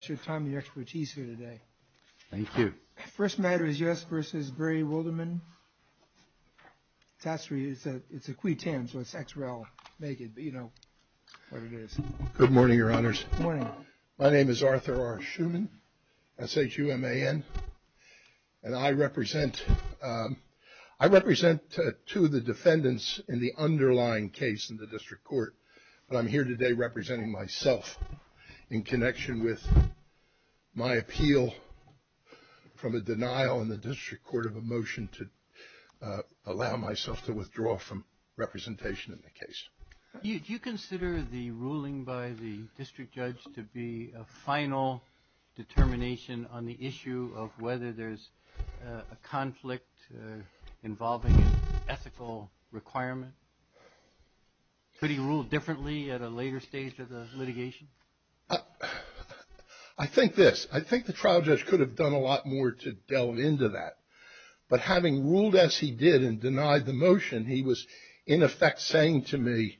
It's your time and your expertise here today. Thank you. First matter is U.S. vs. Barry Wilderman. It's a Cuitan, so it's X-Rail naked, but you know what it is. Good morning, Your Honors. Good morning. My name is Arthur R. Schuman, S-H-U-M-A-N, and I represent two of the defendants in the underlying case in the District Court, but I'm here today representing myself in connection with my appeal from a denial in the District Court of a motion to allow myself to withdraw from representation in the case. Do you consider the ruling by the District Judge to be a final determination on the issue of whether there's a conflict involving an ethical requirement? Could he rule differently at a later stage of the litigation? I think this. I think the trial judge could have done a lot more to delve into that, but having ruled as he did and denied the motion, he was in effect saying to me,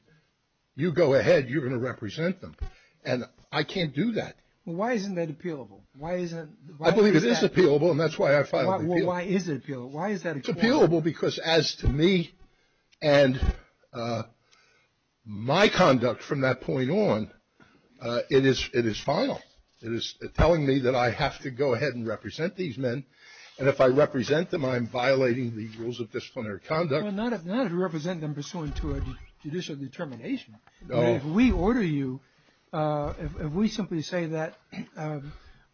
you go ahead, you're going to represent them, and I can't do that. Well, why isn't that appealable? I believe it is appealable, and that's why I filed the appeal. Well, why is it appealable? It's appealable because as to me and my conduct from that point on, it is final. It is telling me that I have to go ahead and represent these men, and if I represent them, I'm violating the rules of disciplinary conduct. Well, not if you represent them pursuant to a judicial determination. No. If we order you, if we simply say that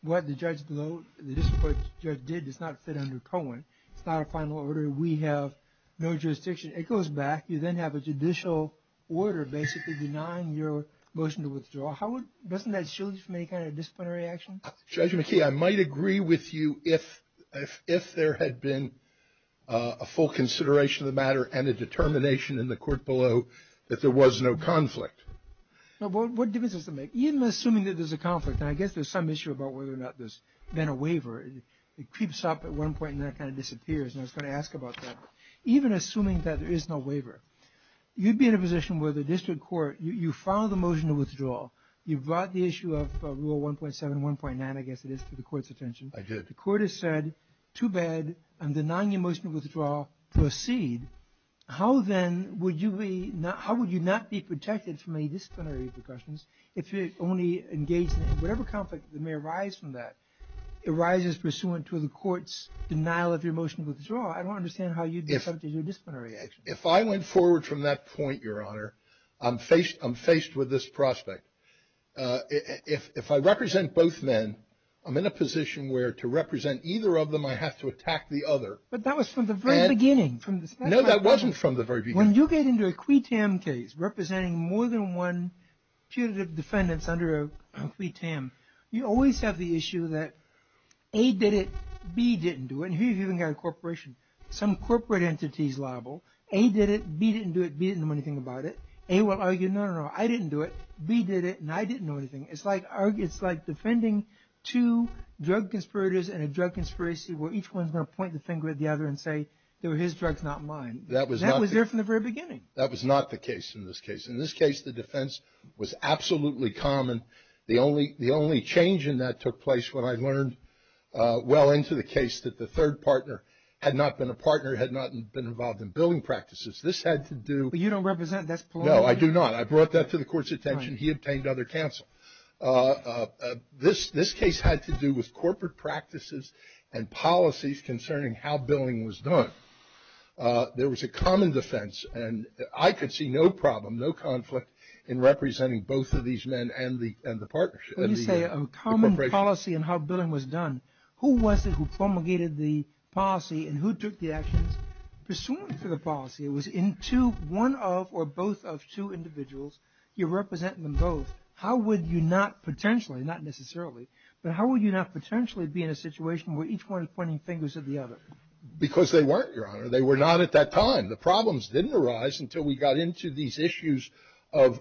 what the District Judge did does not fit under Cohen, it's not a final order, we have no jurisdiction, it goes back, you then have a judicial order basically denying your motion to withdraw. Doesn't that shield you from any kind of disciplinary action? Judge McKee, I might agree with you if there had been a full consideration of the matter and a determination in the court below that there was no conflict. What difference does it make? Even assuming that there's a conflict, and I guess there's some issue about whether or not there's been a waiver, it creeps up at one point and then it kind of disappears, and I was going to ask about that. Even assuming that there is no waiver, you'd be in a position where the District Court, you file the motion to withdraw, you brought the issue of Rule 1.7, 1.9, I guess it is, to the court's attention. I did. The court has said, too bad, I'm denying your motion to withdraw, proceed. How then would you be, how would you not be protected from any disciplinary repercussions if you're only engaged in whatever conflict may arise from that, arises pursuant to the court's denial of your motion to withdraw? I don't understand how you'd be subject to disciplinary action. If I went forward from that point, Your Honor, I'm faced with this prospect. If I represent both men, I'm in a position where to represent either of them I have to attack the other. But that was from the very beginning. No, that wasn't from the very beginning. When you get into a quid tam case representing more than one punitive defendants under a quid tam, you always have the issue that A did it, B didn't do it, and here you've even got a corporation. Some corporate entity's liable. A did it, B didn't do it, B didn't know anything about it. A will argue, no, no, no, I didn't do it, B did it, and I didn't know anything. It's like defending two drug conspirators in a drug conspiracy where each one's going to point the finger at the other and say, they were his drugs, not mine. That was there from the very beginning. That was not the case in this case. In this case, the defense was absolutely common. The only change in that took place when I learned well into the case that the third partner had not been a partner, had not been involved in billing practices. This had to do with. But you don't represent. No, I do not. I brought that to the court's attention. He obtained other counsel. This case had to do with corporate practices and policies concerning how billing was done. There was a common defense, and I could see no problem, no conflict in representing both of these men and the partnership. When you say a common policy in how billing was done, who was it who promulgated the policy and who took the actions pursuant to the policy? It was in two, one of or both of two individuals. You're representing them both. How would you not potentially, not necessarily, but how would you not potentially be in a situation where each one is pointing fingers at the other? Because they weren't, Your Honor. They were not at that time. The problems didn't arise until we got into these issues of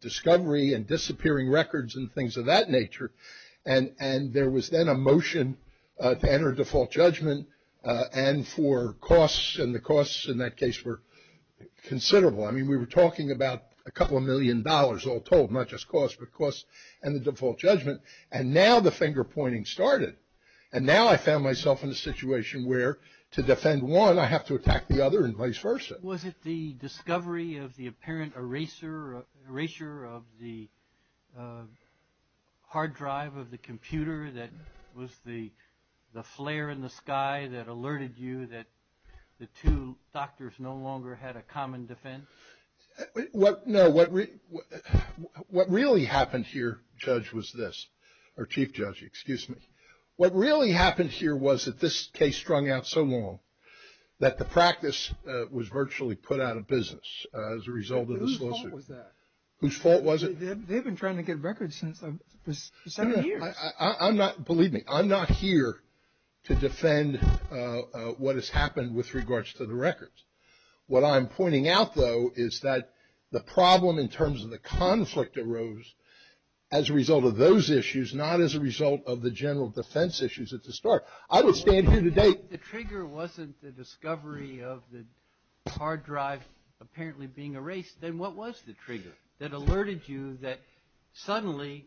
discovery and disappearing records and things of that nature. And there was then a motion to enter default judgment and for costs, and the costs in that case were considerable. I mean, we were talking about a couple of million dollars all told, not just costs but costs and the default judgment. And now the finger pointing started. And now I found myself in a situation where to defend one, I have to attack the other and vice versa. Was it the discovery of the apparent erasure of the hard drive of the computer that was the flare in the sky that alerted you that the two doctors no longer had a common defense? No, what really happened here, Judge, was this. Or Chief Judge, excuse me. What really happened here was that this case strung out so long that the practice was virtually put out of business as a result of this lawsuit. Whose fault was that? Whose fault was it? They've been trying to get records since the 70s. Believe me, I'm not here to defend what has happened with regards to the records. What I'm pointing out, though, is that the problem in terms of the conflict arose as a result of those issues, not as a result of the general defense issues at the start. I would stand here today. If the trigger wasn't the discovery of the hard drive apparently being erased, then what was the trigger that alerted you that suddenly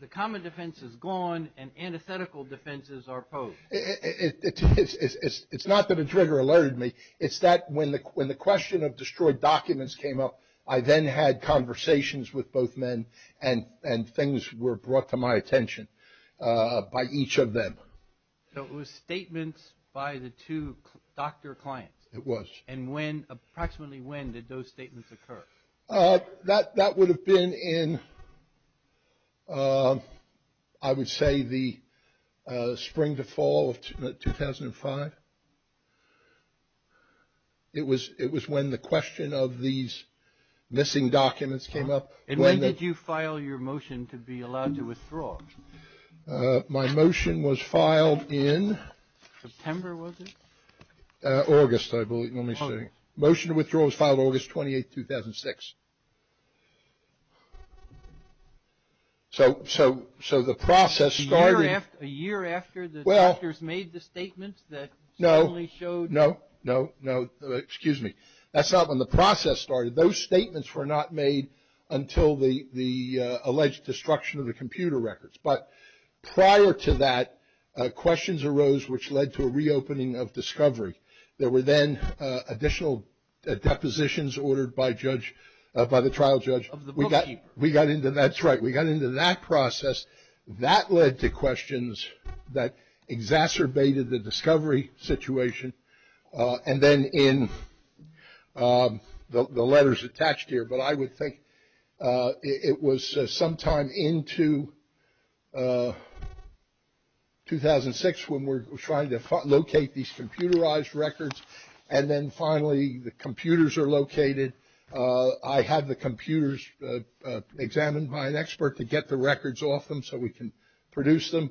the common defense is gone and antithetical defenses are posed? It's not that a trigger alerted me. It's that when the question of destroyed documents came up, I then had conversations with both men and things were brought to my attention by each of them. So it was statements by the two doctor clients? It was. And when, approximately when, did those statements occur? That would have been in, I would say, the spring to fall of 2005. It was when the question of these missing documents came up. And when did you file your motion to be allowed to withdraw? My motion was filed in? September, was it? August, I believe. Let me see. Motion to withdraw was filed August 28, 2006. So the process started. A year after the doctors made the statements that suddenly showed? No, no, no, no. Excuse me. That's not when the process started. Those statements were not made until the alleged destruction of the computer records. But prior to that, questions arose which led to a reopening of discovery. There were then additional depositions ordered by the trial judge. Of the bookkeeper. That's right. We got into that process. That led to questions that exacerbated the discovery situation. And then in the letters attached here, but I would think it was sometime into 2006 when we were trying to locate these computerized records. And then finally the computers are located. I had the computers examined by an expert to get the records off them so we can produce them.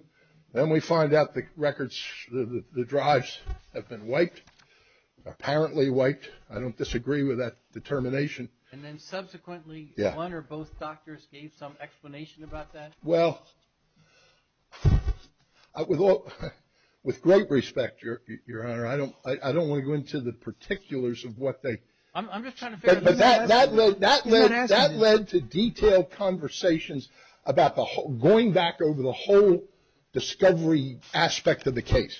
Then we find out the records, the drives have been wiped. Apparently wiped. I don't disagree with that determination. And then subsequently one or both doctors gave some explanation about that? Well, with great respect, Your Honor, I don't want to go into the particulars of what they. I'm just trying to figure. That led to detailed conversations about going back over the whole discovery aspect of the case.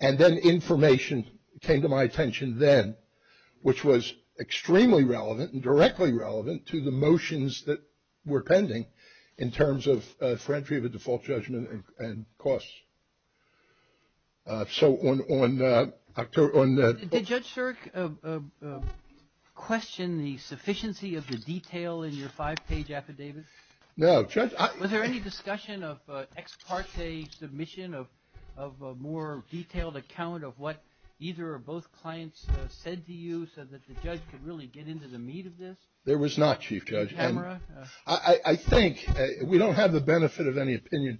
And then information came to my attention then, which was extremely relevant and directly relevant to the motions that were pending in terms of the default judgment and costs. So on that. Did Judge Shirk question the sufficiency of the detail in your five-page affidavit? No. Was there any discussion of ex parte submission of a more detailed account of what either or both clients said to you so that the judge could really get into the meat of this? There was not, Chief Judge. I think. We don't have the benefit of any opinion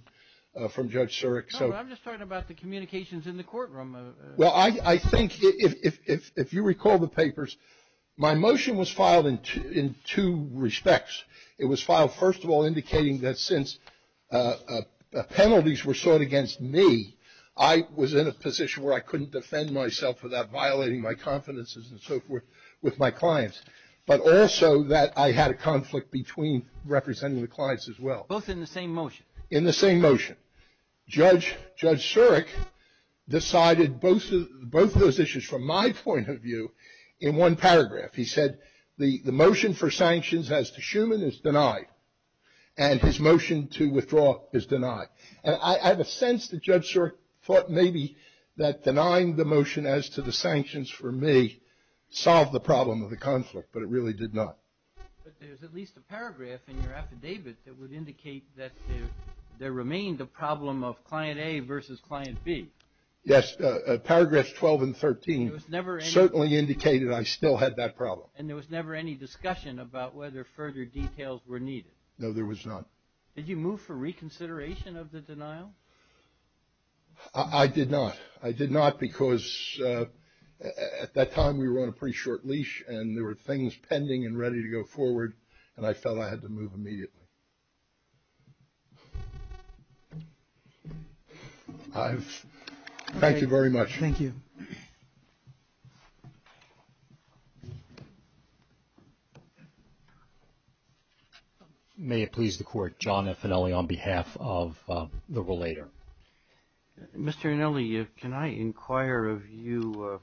from Judge Shirk. I'm just talking about the communications in the courtroom. Well, I think if you recall the papers, my motion was filed in two respects. It was filed, first of all, indicating that since penalties were sought against me, I was in a position where I couldn't defend myself without violating my confidences and so forth with my clients, but also that I had a conflict between representing the clients as well. Both in the same motion? In the same motion. Judge Shirk decided both of those issues from my point of view in one paragraph. He said the motion for sanctions as to Schuman is denied, and his motion to withdraw is denied. And I have a sense that Judge Shirk thought maybe that denying the motion as to the sanctions for me solved the problem of the conflict, but it really did not. But there's at least a paragraph in your affidavit that would indicate that there remained a problem of client A versus client B. Yes. Paragraphs 12 and 13 certainly indicated I still had that problem. And there was never any discussion about whether further details were needed? No, there was not. Did you move for reconsideration of the denial? I did not. I did not because at that time we were on a pretty short leash, and there were things pending and ready to go forward, and I felt I had to move immediately. Thank you very much. Thank you. Thank you. May it please the Court, John F. Annelli on behalf of the relator. Mr. Annelli, can I inquire of you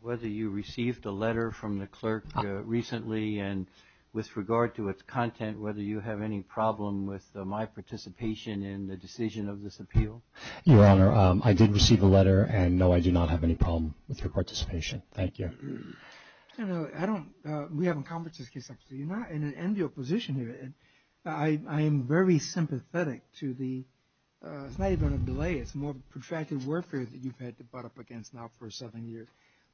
whether you received a letter from the clerk recently, and with regard to its content, whether you have any problem with my participation in the decision of this appeal? Your Honor, I did receive a letter, and no, I do not have any problem with your participation. Thank you. I don't know. I don't. We haven't conversed this case. You're not in an enviable position here. I am very sympathetic to the slight amount of delay. It's more protracted warfare that you've had to butt up against now for seven years.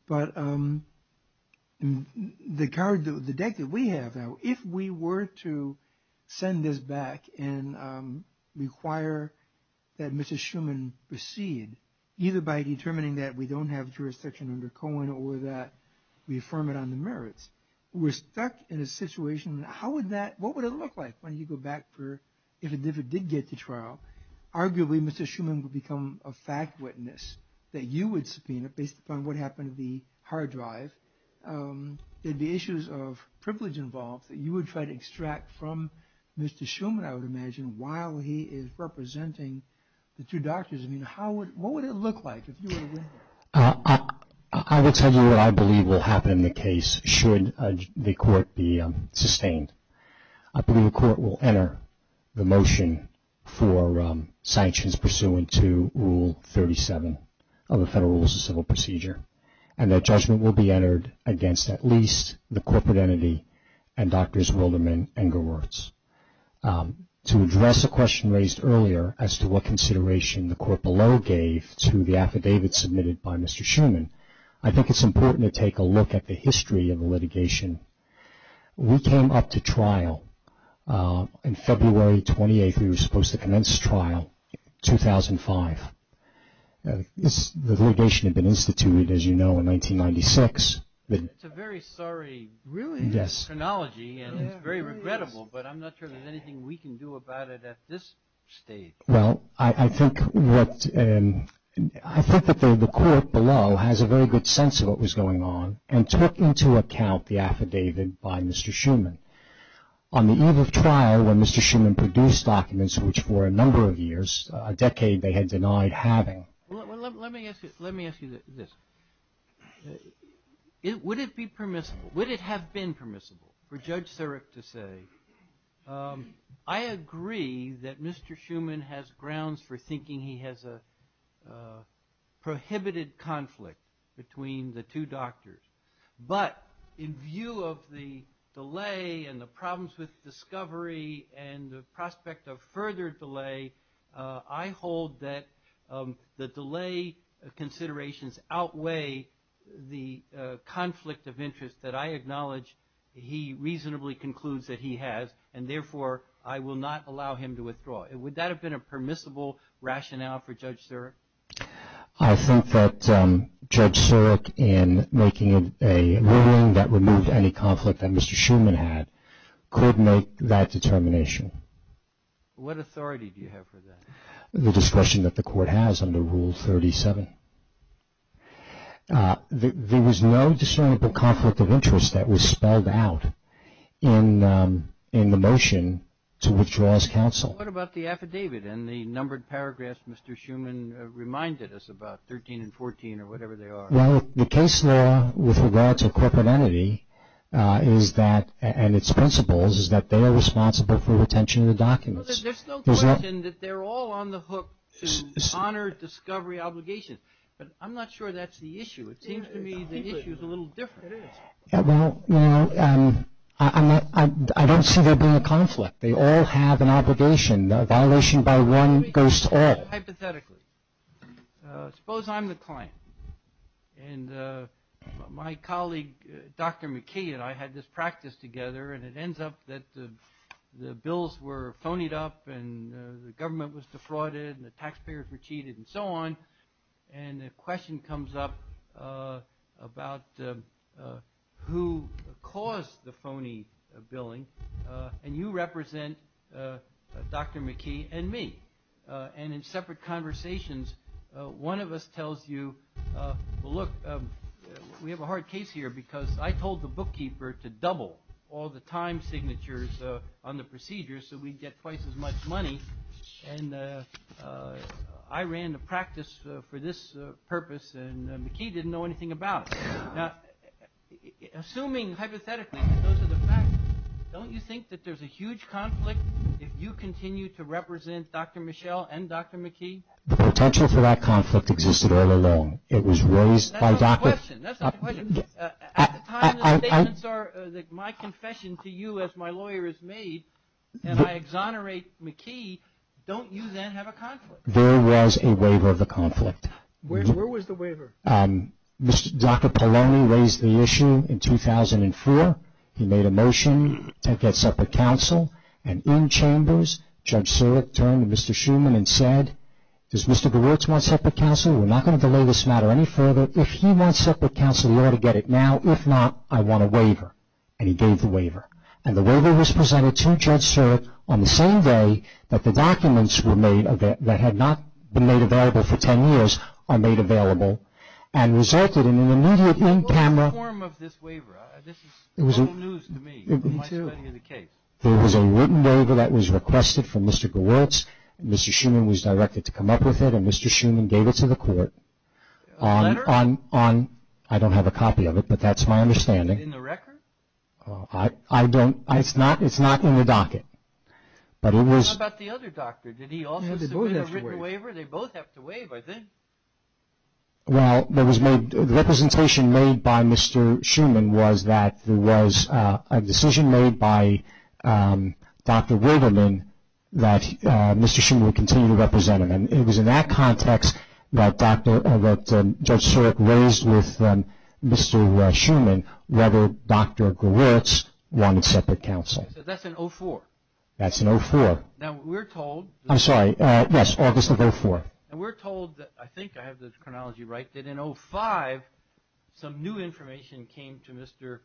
But the deck that we have now, if we were to send this back and require that Mrs. Schuman proceed, either by determining that we don't have jurisdiction under Cohen or that we affirm it on the merits, we're stuck in a situation. What would it look like when you go back for, if it did get to trial, arguably Mrs. Schuman would become a fact witness that you would subpoena based upon what happened to the hard drive. There'd be issues of privilege involved that you would try to extract from Mr. Schuman, I would imagine, while he is representing the two doctors. I mean, what would it look like if you were to win it? I will tell you what I believe will happen in the case should the court be sustained. I believe the court will enter the motion for sanctions pursuant to Rule 37 of the Federal Rules of Civil Procedure and that judgment will be entered against at least the corporate entity and Drs. Wilderman and Gerwurz. To address the question raised earlier as to what consideration the court below gave to the affidavit submitted by Mr. Schuman, I think it's important to take a look at the history of the litigation. We came up to trial in February 28th. We were supposed to commence trial in 2005. The litigation had been instituted, as you know, in 1996. It's a very sorry chronology and it's very regrettable, but I'm not sure there's anything we can do about it at this stage. Well, I think that the court below has a very good sense of what was going on and took into account the affidavit by Mr. Schuman. On the eve of trial when Mr. Schuman produced documents, which for a number of years, a decade, they had denied having. Let me ask you this. Would it be permissible, would it have been permissible for Judge Sarek to say, I agree that Mr. Schuman has grounds for thinking he has a prohibited conflict between the two doctors, but in view of the delay and the problems with discovery and the prospect of further delay, I hold that the delay considerations outweigh the conflict of interest that I acknowledge he reasonably concludes that he has and, therefore, I will not allow him to withdraw. Would that have been a permissible rationale for Judge Sarek? I think that Judge Sarek in making a ruling that removed any conflict that Mr. Schuman had could make that determination. What authority do you have for that? The discretion that the court has under Rule 37. There was no discernible conflict of interest that was spelled out in the motion to withdraw as counsel. What about the affidavit and the numbered paragraphs Mr. Schuman reminded us about, 13 and 14 or whatever they are? Well, the case law with regard to corporate entity is that, and its principles, is that they are responsible for retention of the documents. There's no question that they're all on the hook to honor discovery obligations, but I'm not sure that's the issue. It seems to me the issue is a little different. Well, I don't see there being a conflict. They all have an obligation. A violation by one goes to all. Hypothetically. Suppose I'm the client and my colleague, Dr. McKay, and I had this practice together and it ends up that the bills were phonied up and the government was defrauded and the taxpayers were cheated and so on, and a question comes up about who caused the phony billing and you represent Dr. McKay and me. And in separate conversations, one of us tells you, well, look, we have a hard case here because I told the bookkeeper to double all the time signatures on the procedures so we'd get twice as much money and I ran the practice for this purpose and McKay didn't know anything about it. Now, assuming hypothetically that those are the facts, don't you think that there's a huge conflict if you continue to represent Dr. Michelle and Dr. McKay? The potential for that conflict existed all along. It was raised by Dr. That's not the question. At the time the statements are that my confession to you as my lawyer is made and I exonerate McKay, don't you then have a conflict? There was a waiver of the conflict. Where was the waiver? Dr. Polony raised the issue in 2004. He made a motion to get separate counsel and in chambers, Judge Surek turned to Mr. Schuman and said, does Mr. Grewitz want separate counsel? We're not going to delay this matter any further. If he wants separate counsel, he ought to get it now. If not, I want a waiver. And he gave the waiver. And the waiver was presented to Judge Surek on the same day that the documents were made that had not been made available for ten years are made available and resulted in an immediate in camera What's the form of this waiver? This is total news to me. Me too. There was a written waiver that was requested from Mr. Grewitz. Mr. Schuman was directed to come up with it and Mr. Schuman gave it to the court. A letter? I don't have a copy of it, but that's my understanding. Is it in the record? It's not in the docket. What about the other doctor? Did he also submit a written waiver? They both have to waive. Well, the representation made by Mr. Schuman was that there was a decision made by Dr. Wilderman that Mr. Schuman would continue to represent him. It was in that context that Judge Surek raised with Mr. Schuman whether Dr. Grewitz wanted separate counsel. So that's in 04? That's in 04. Now we're told I'm sorry, yes, August of 04. And we're told that, I think I have the chronology right, that in 05, some new information came to Mr.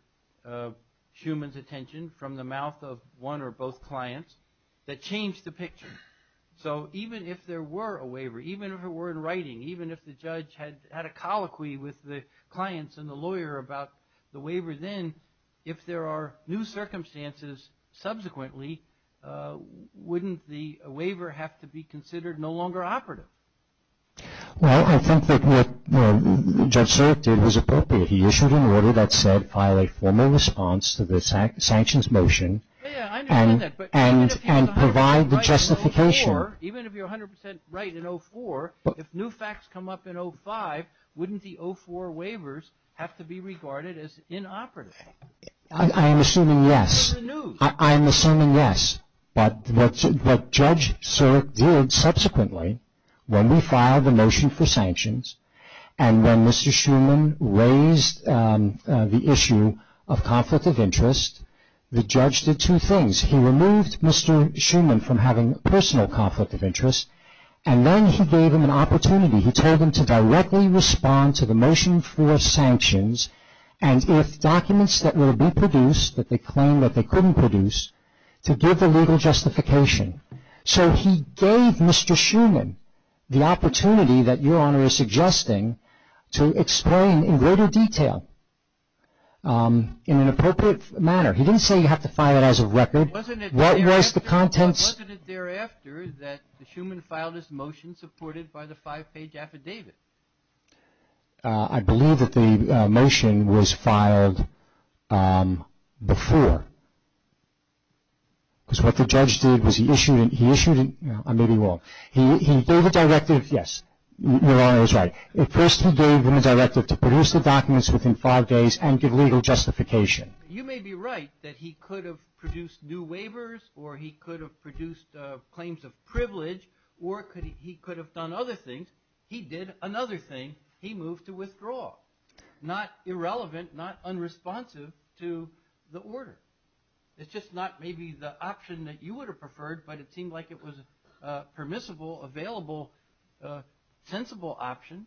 Schuman's attention from the mouth of one or both clients that changed the picture. So even if there were a waiver, even if it were in writing, even if the judge had a colloquy with the clients and the lawyer about the waiver then, if there are new circumstances subsequently, wouldn't the waiver have to be considered no longer operative? Well, I think that what Judge Surek did was appropriate. He issued an order that said file a formal response to the sanctions motion and provide the justification. Even if you're 100 percent right in 04, if new facts come up in 05, wouldn't the 04 waivers have to be regarded as inoperative? I am assuming yes. They're in the news. I am assuming yes. But what Judge Surek did subsequently, when we filed the motion for sanctions and when Mr. Schuman raised the issue of conflict of interest, the judge did two things. He removed Mr. Schuman from having personal conflict of interest and then he gave him an opportunity. He told him to directly respond to the motion for sanctions and if documents that were to be produced that they claimed that they couldn't produce, to give the legal justification. So he gave Mr. Schuman the opportunity that Your Honor is suggesting to explain in greater detail in an appropriate manner. He didn't say you have to file it as a record. Wasn't it thereafter that Schuman filed his motion supported by the five-page affidavit? I believe that the motion was filed before. Because what the judge did was he issued a directive, yes, Your Honor is right. First he gave him a directive to produce the documents within five days and give legal justification. You may be right that he could have produced new waivers or he could have produced claims of privilege or he could have done other things. He did another thing. He moved to withdraw. Not irrelevant, not unresponsive to the order. It's just not maybe the option that you would have preferred, but it seemed like it was a permissible, available, sensible option.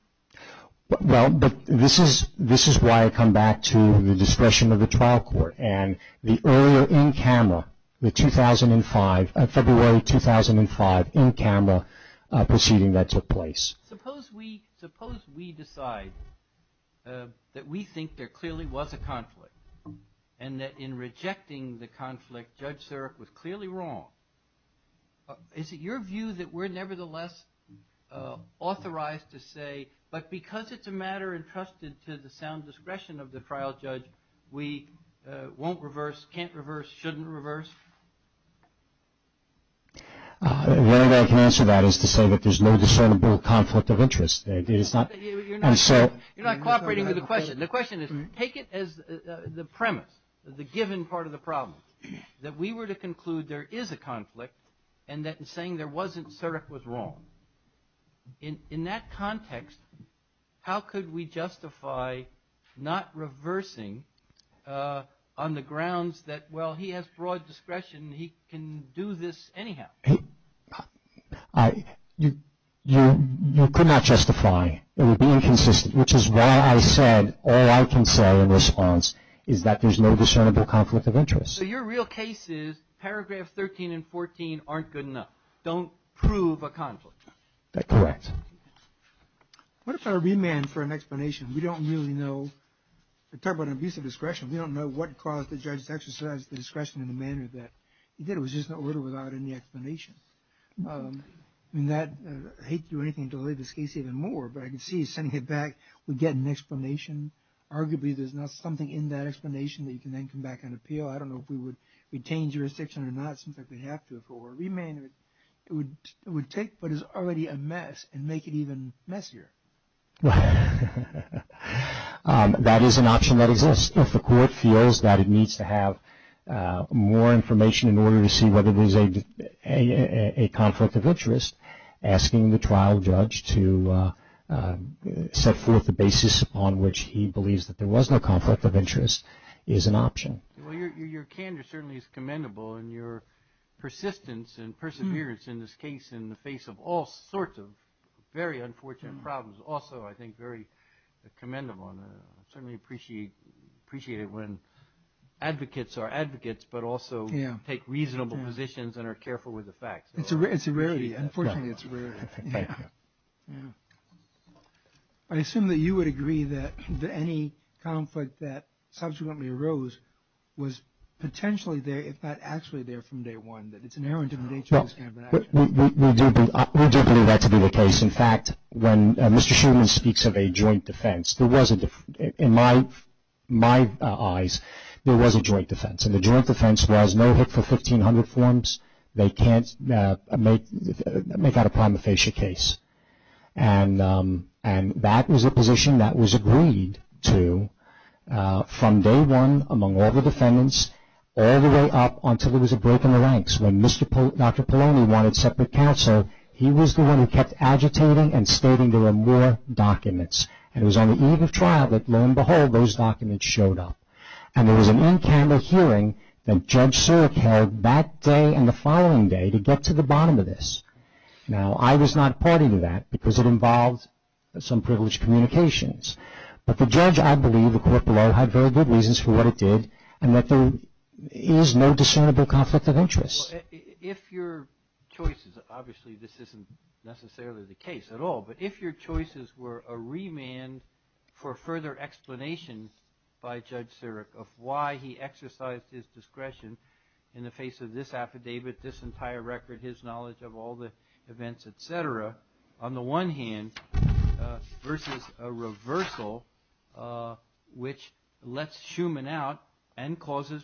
Well, but this is why I come back to the discretion of the trial court and the earlier in-camera, the 2005, February 2005 in-camera proceeding that took place. Suppose we decide that we think there clearly was a conflict and that in rejecting the conflict Judge Sirak was clearly wrong. Is it your view that we're nevertheless authorized to say, but because it's a matter entrusted to the sound discretion of the trial judge, we won't reverse, can't reverse, shouldn't reverse? The only way I can answer that is to say that there's no discernible conflict of interest. You're not cooperating with the question. The question is take it as the premise, the given part of the problem, that we were to conclude there is a conflict and that in saying there wasn't, Sirak was wrong. In that context, how could we justify not reversing on the grounds that, well, he has broad discretion, he can do this anyhow? You could not justify. It would be inconsistent, which is why I said all I can say in response is that there's no discernible conflict of interest. So your real case is paragraph 13 and 14 aren't good enough. Don't prove a conflict. That's correct. What if I remand for an explanation? We don't really know. We're talking about an abuse of discretion. We don't know what caused the judge to exercise the discretion in the manner that he did. It was just an order without any explanation. I hate to do anything to delay this case even more, but I can see he's sending it back with getting an explanation. Arguably, there's not something in that explanation that you can then come back and appeal. I don't know if we would retain jurisdiction or not. It seems like we have to. If it were remand, it would take what is already a mess and make it even messier. That is an option that exists. If the court feels that it needs to have more information in order to see whether there's a conflict of interest, asking the trial judge to set forth the basis on which he believes that there was no conflict of interest is an option. Your candor certainly is commendable, and your persistence and perseverance in this case in the face of all sorts of very unfortunate problems, also I think very commendable. I certainly appreciate it when advocates are advocates, but also take reasonable positions and are careful with the facts. It's a rarity. Unfortunately, it's a rarity. I assume that you would agree that any conflict that subsequently arose was potentially there, if not actually there from day one, that it's inherent in the nature of this kind of an action. We do believe that to be the case. In fact, when Mr. Shulman speaks of a joint defense, in my eyes, there was a joint defense, and the joint defense was no HIC for 1500 forms. They can't make out a prima facie case, and that was a position that was agreed to from day one among all the defendants, all the way up until there was a break in the ranks when Dr. Polony wanted separate counsel. He was the one who kept agitating and stating there were more documents, and it was on the eve of trial that, lo and behold, those documents showed up, and there was an in-candor hearing that Judge Surik held that day and the following day to get to the bottom of this. Now, I was not a party to that because it involved some privileged communications, but the judge, I believe, the court below, had very good reasons for what it did, and that there is no discernible conflict of interest. If your choices, obviously this isn't necessarily the case at all, but if your choices were a remand for further explanation by Judge Surik of why he exercised his discretion in the face of this affidavit, this entire record, his knowledge of all the events, et cetera, on the one hand versus a reversal which lets Schumann out and causes,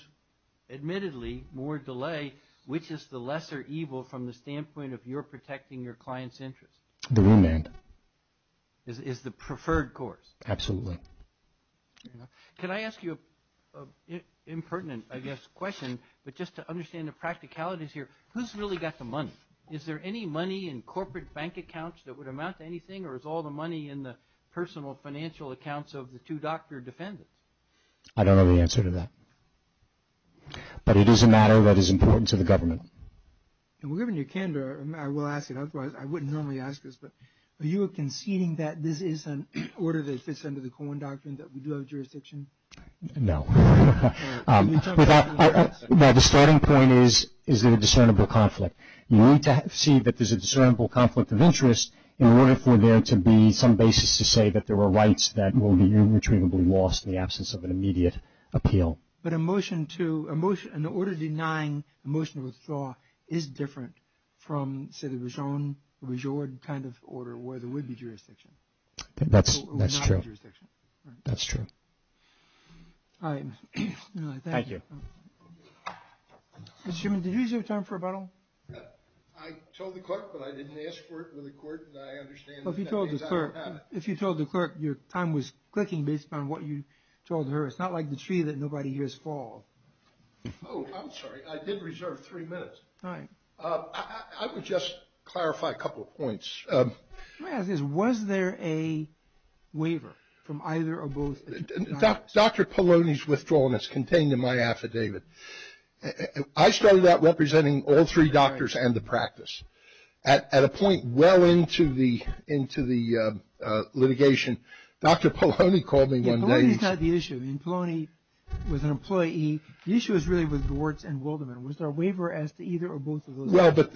admittedly, more delay, which is the lesser evil from the standpoint of your protecting your client's interest? The remand. Is the preferred course. Absolutely. Can I ask you an impertinent, I guess, question, but just to understand the practicalities here. Who's really got the money? Is there any money in corporate bank accounts that would amount to anything, or is all the money in the personal financial accounts of the two doctor defendants? I don't know the answer to that, but it is a matter that is important to the government. Given your candor, I will ask it, otherwise I wouldn't normally ask this, but are you conceding that this is an order that fits under the Cohen Doctrine, that we do have jurisdiction? No. No, the starting point is, is there a discernible conflict? You need to see that there's a discernible conflict of interest in order for there to be some basis to say that there are rights that will be irretrievably lost in the absence of an immediate appeal. But a motion to, an order denying a motion of withdrawal is different from, say, the Bigeaud kind of order, where there would be jurisdiction. That's true. That's true. All right. Thank you. Did you use your time for rebuttal? I told the clerk, but I didn't ask for it with the court, and I understand that that means I don't have it. If you told the clerk your time was clicking based on what you told her, it's not like the tree that nobody hears fall. Oh, I'm sorry. I did reserve three minutes. All right. I would just clarify a couple of points. My question is, was there a waiver from either or both? Dr. Polonyi's withdrawal, and it's contained in my affidavit. I started out representing all three doctors and the practice. Polonyi's not the issue. I mean, Polonyi was an employee. The issue is really with Gewertz and Wildermann. Was there a waiver as to either or both of those? Well, but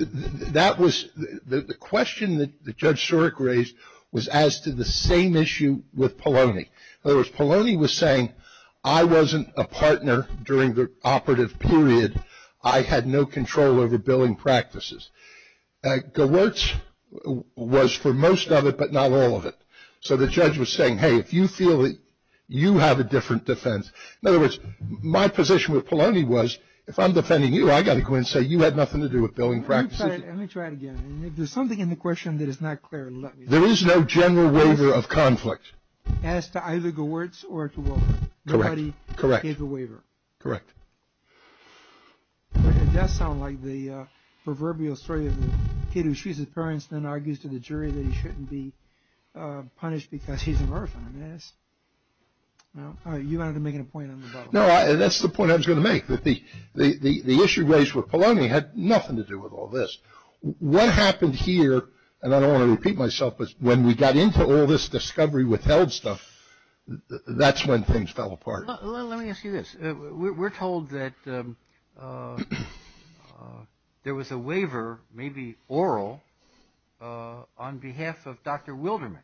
that was, the question that Judge Surik raised was as to the same issue with Polonyi. In other words, Polonyi was saying, I wasn't a partner during the operative period. I had no control over billing practices. Gewertz was for most of it, but not all of it. So the judge was saying, hey, if you feel that you have a different defense. In other words, my position with Polonyi was, if I'm defending you, I've got to go in and say you had nothing to do with billing practices. Let me try it again. If there's something in the question that is not clear, let me know. There is no general waiver of conflict. As to either Gewertz or to Wildermann. Correct. Nobody gave a waiver. Correct. It does sound like the proverbial story of the kid who shoots his parents and then argues to the jury that he shouldn't be punished because he's an orphan. You wanted to make a point on the bottom. No, that's the point I was going to make. The issue raised with Polonyi had nothing to do with all this. What happened here, and I don't want to repeat myself, but when we got into all this discovery withheld stuff, that's when things fell apart. Let me ask you this. We're told that there was a waiver, maybe oral, on behalf of Dr. Wildermann.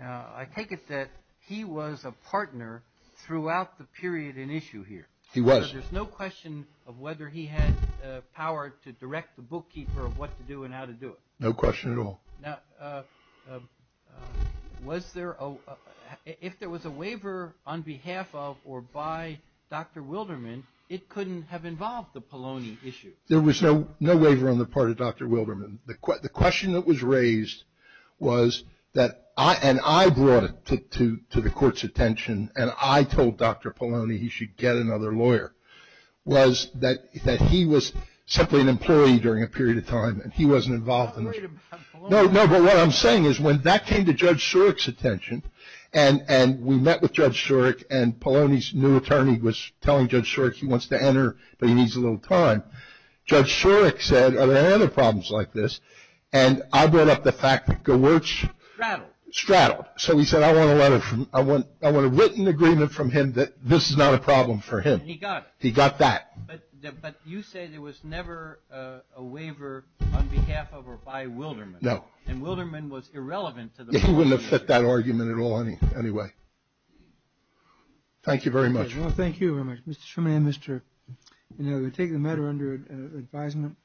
I take it that he was a partner throughout the period in issue here. He was. There's no question of whether he had power to direct the bookkeeper of what to do and how to do it. No question at all. Now, if there was a waiver on behalf of or by Dr. Wildermann, it couldn't have involved the Polonyi issue. There was no waiver on the part of Dr. Wildermann. The question that was raised was that, and I brought it to the court's attention, and I told Dr. Polonyi he should get another lawyer, was that he was simply an employee during a period of time and he wasn't involved in the issue. No, no, but what I'm saying is when that came to Judge Shorrock's attention, and we met with Judge Shorrock and Polonyi's new attorney was telling Judge Shorrock he wants to enter, but he needs a little time, Judge Shorrock said, are there any other problems like this, and I brought up the fact that Gewertz. Straddled. Straddled. So he said I want a written agreement from him that this is not a problem for him. And he got it. He got that. But you say there was never a waiver on behalf of or by Wildermann. No. And Wildermann was irrelevant to the policy. He wouldn't have fit that argument at all anyway. Thank you very much. Well, thank you very much, Mr. Shurman and Mr. Inouye. We'll take the matter under advisement.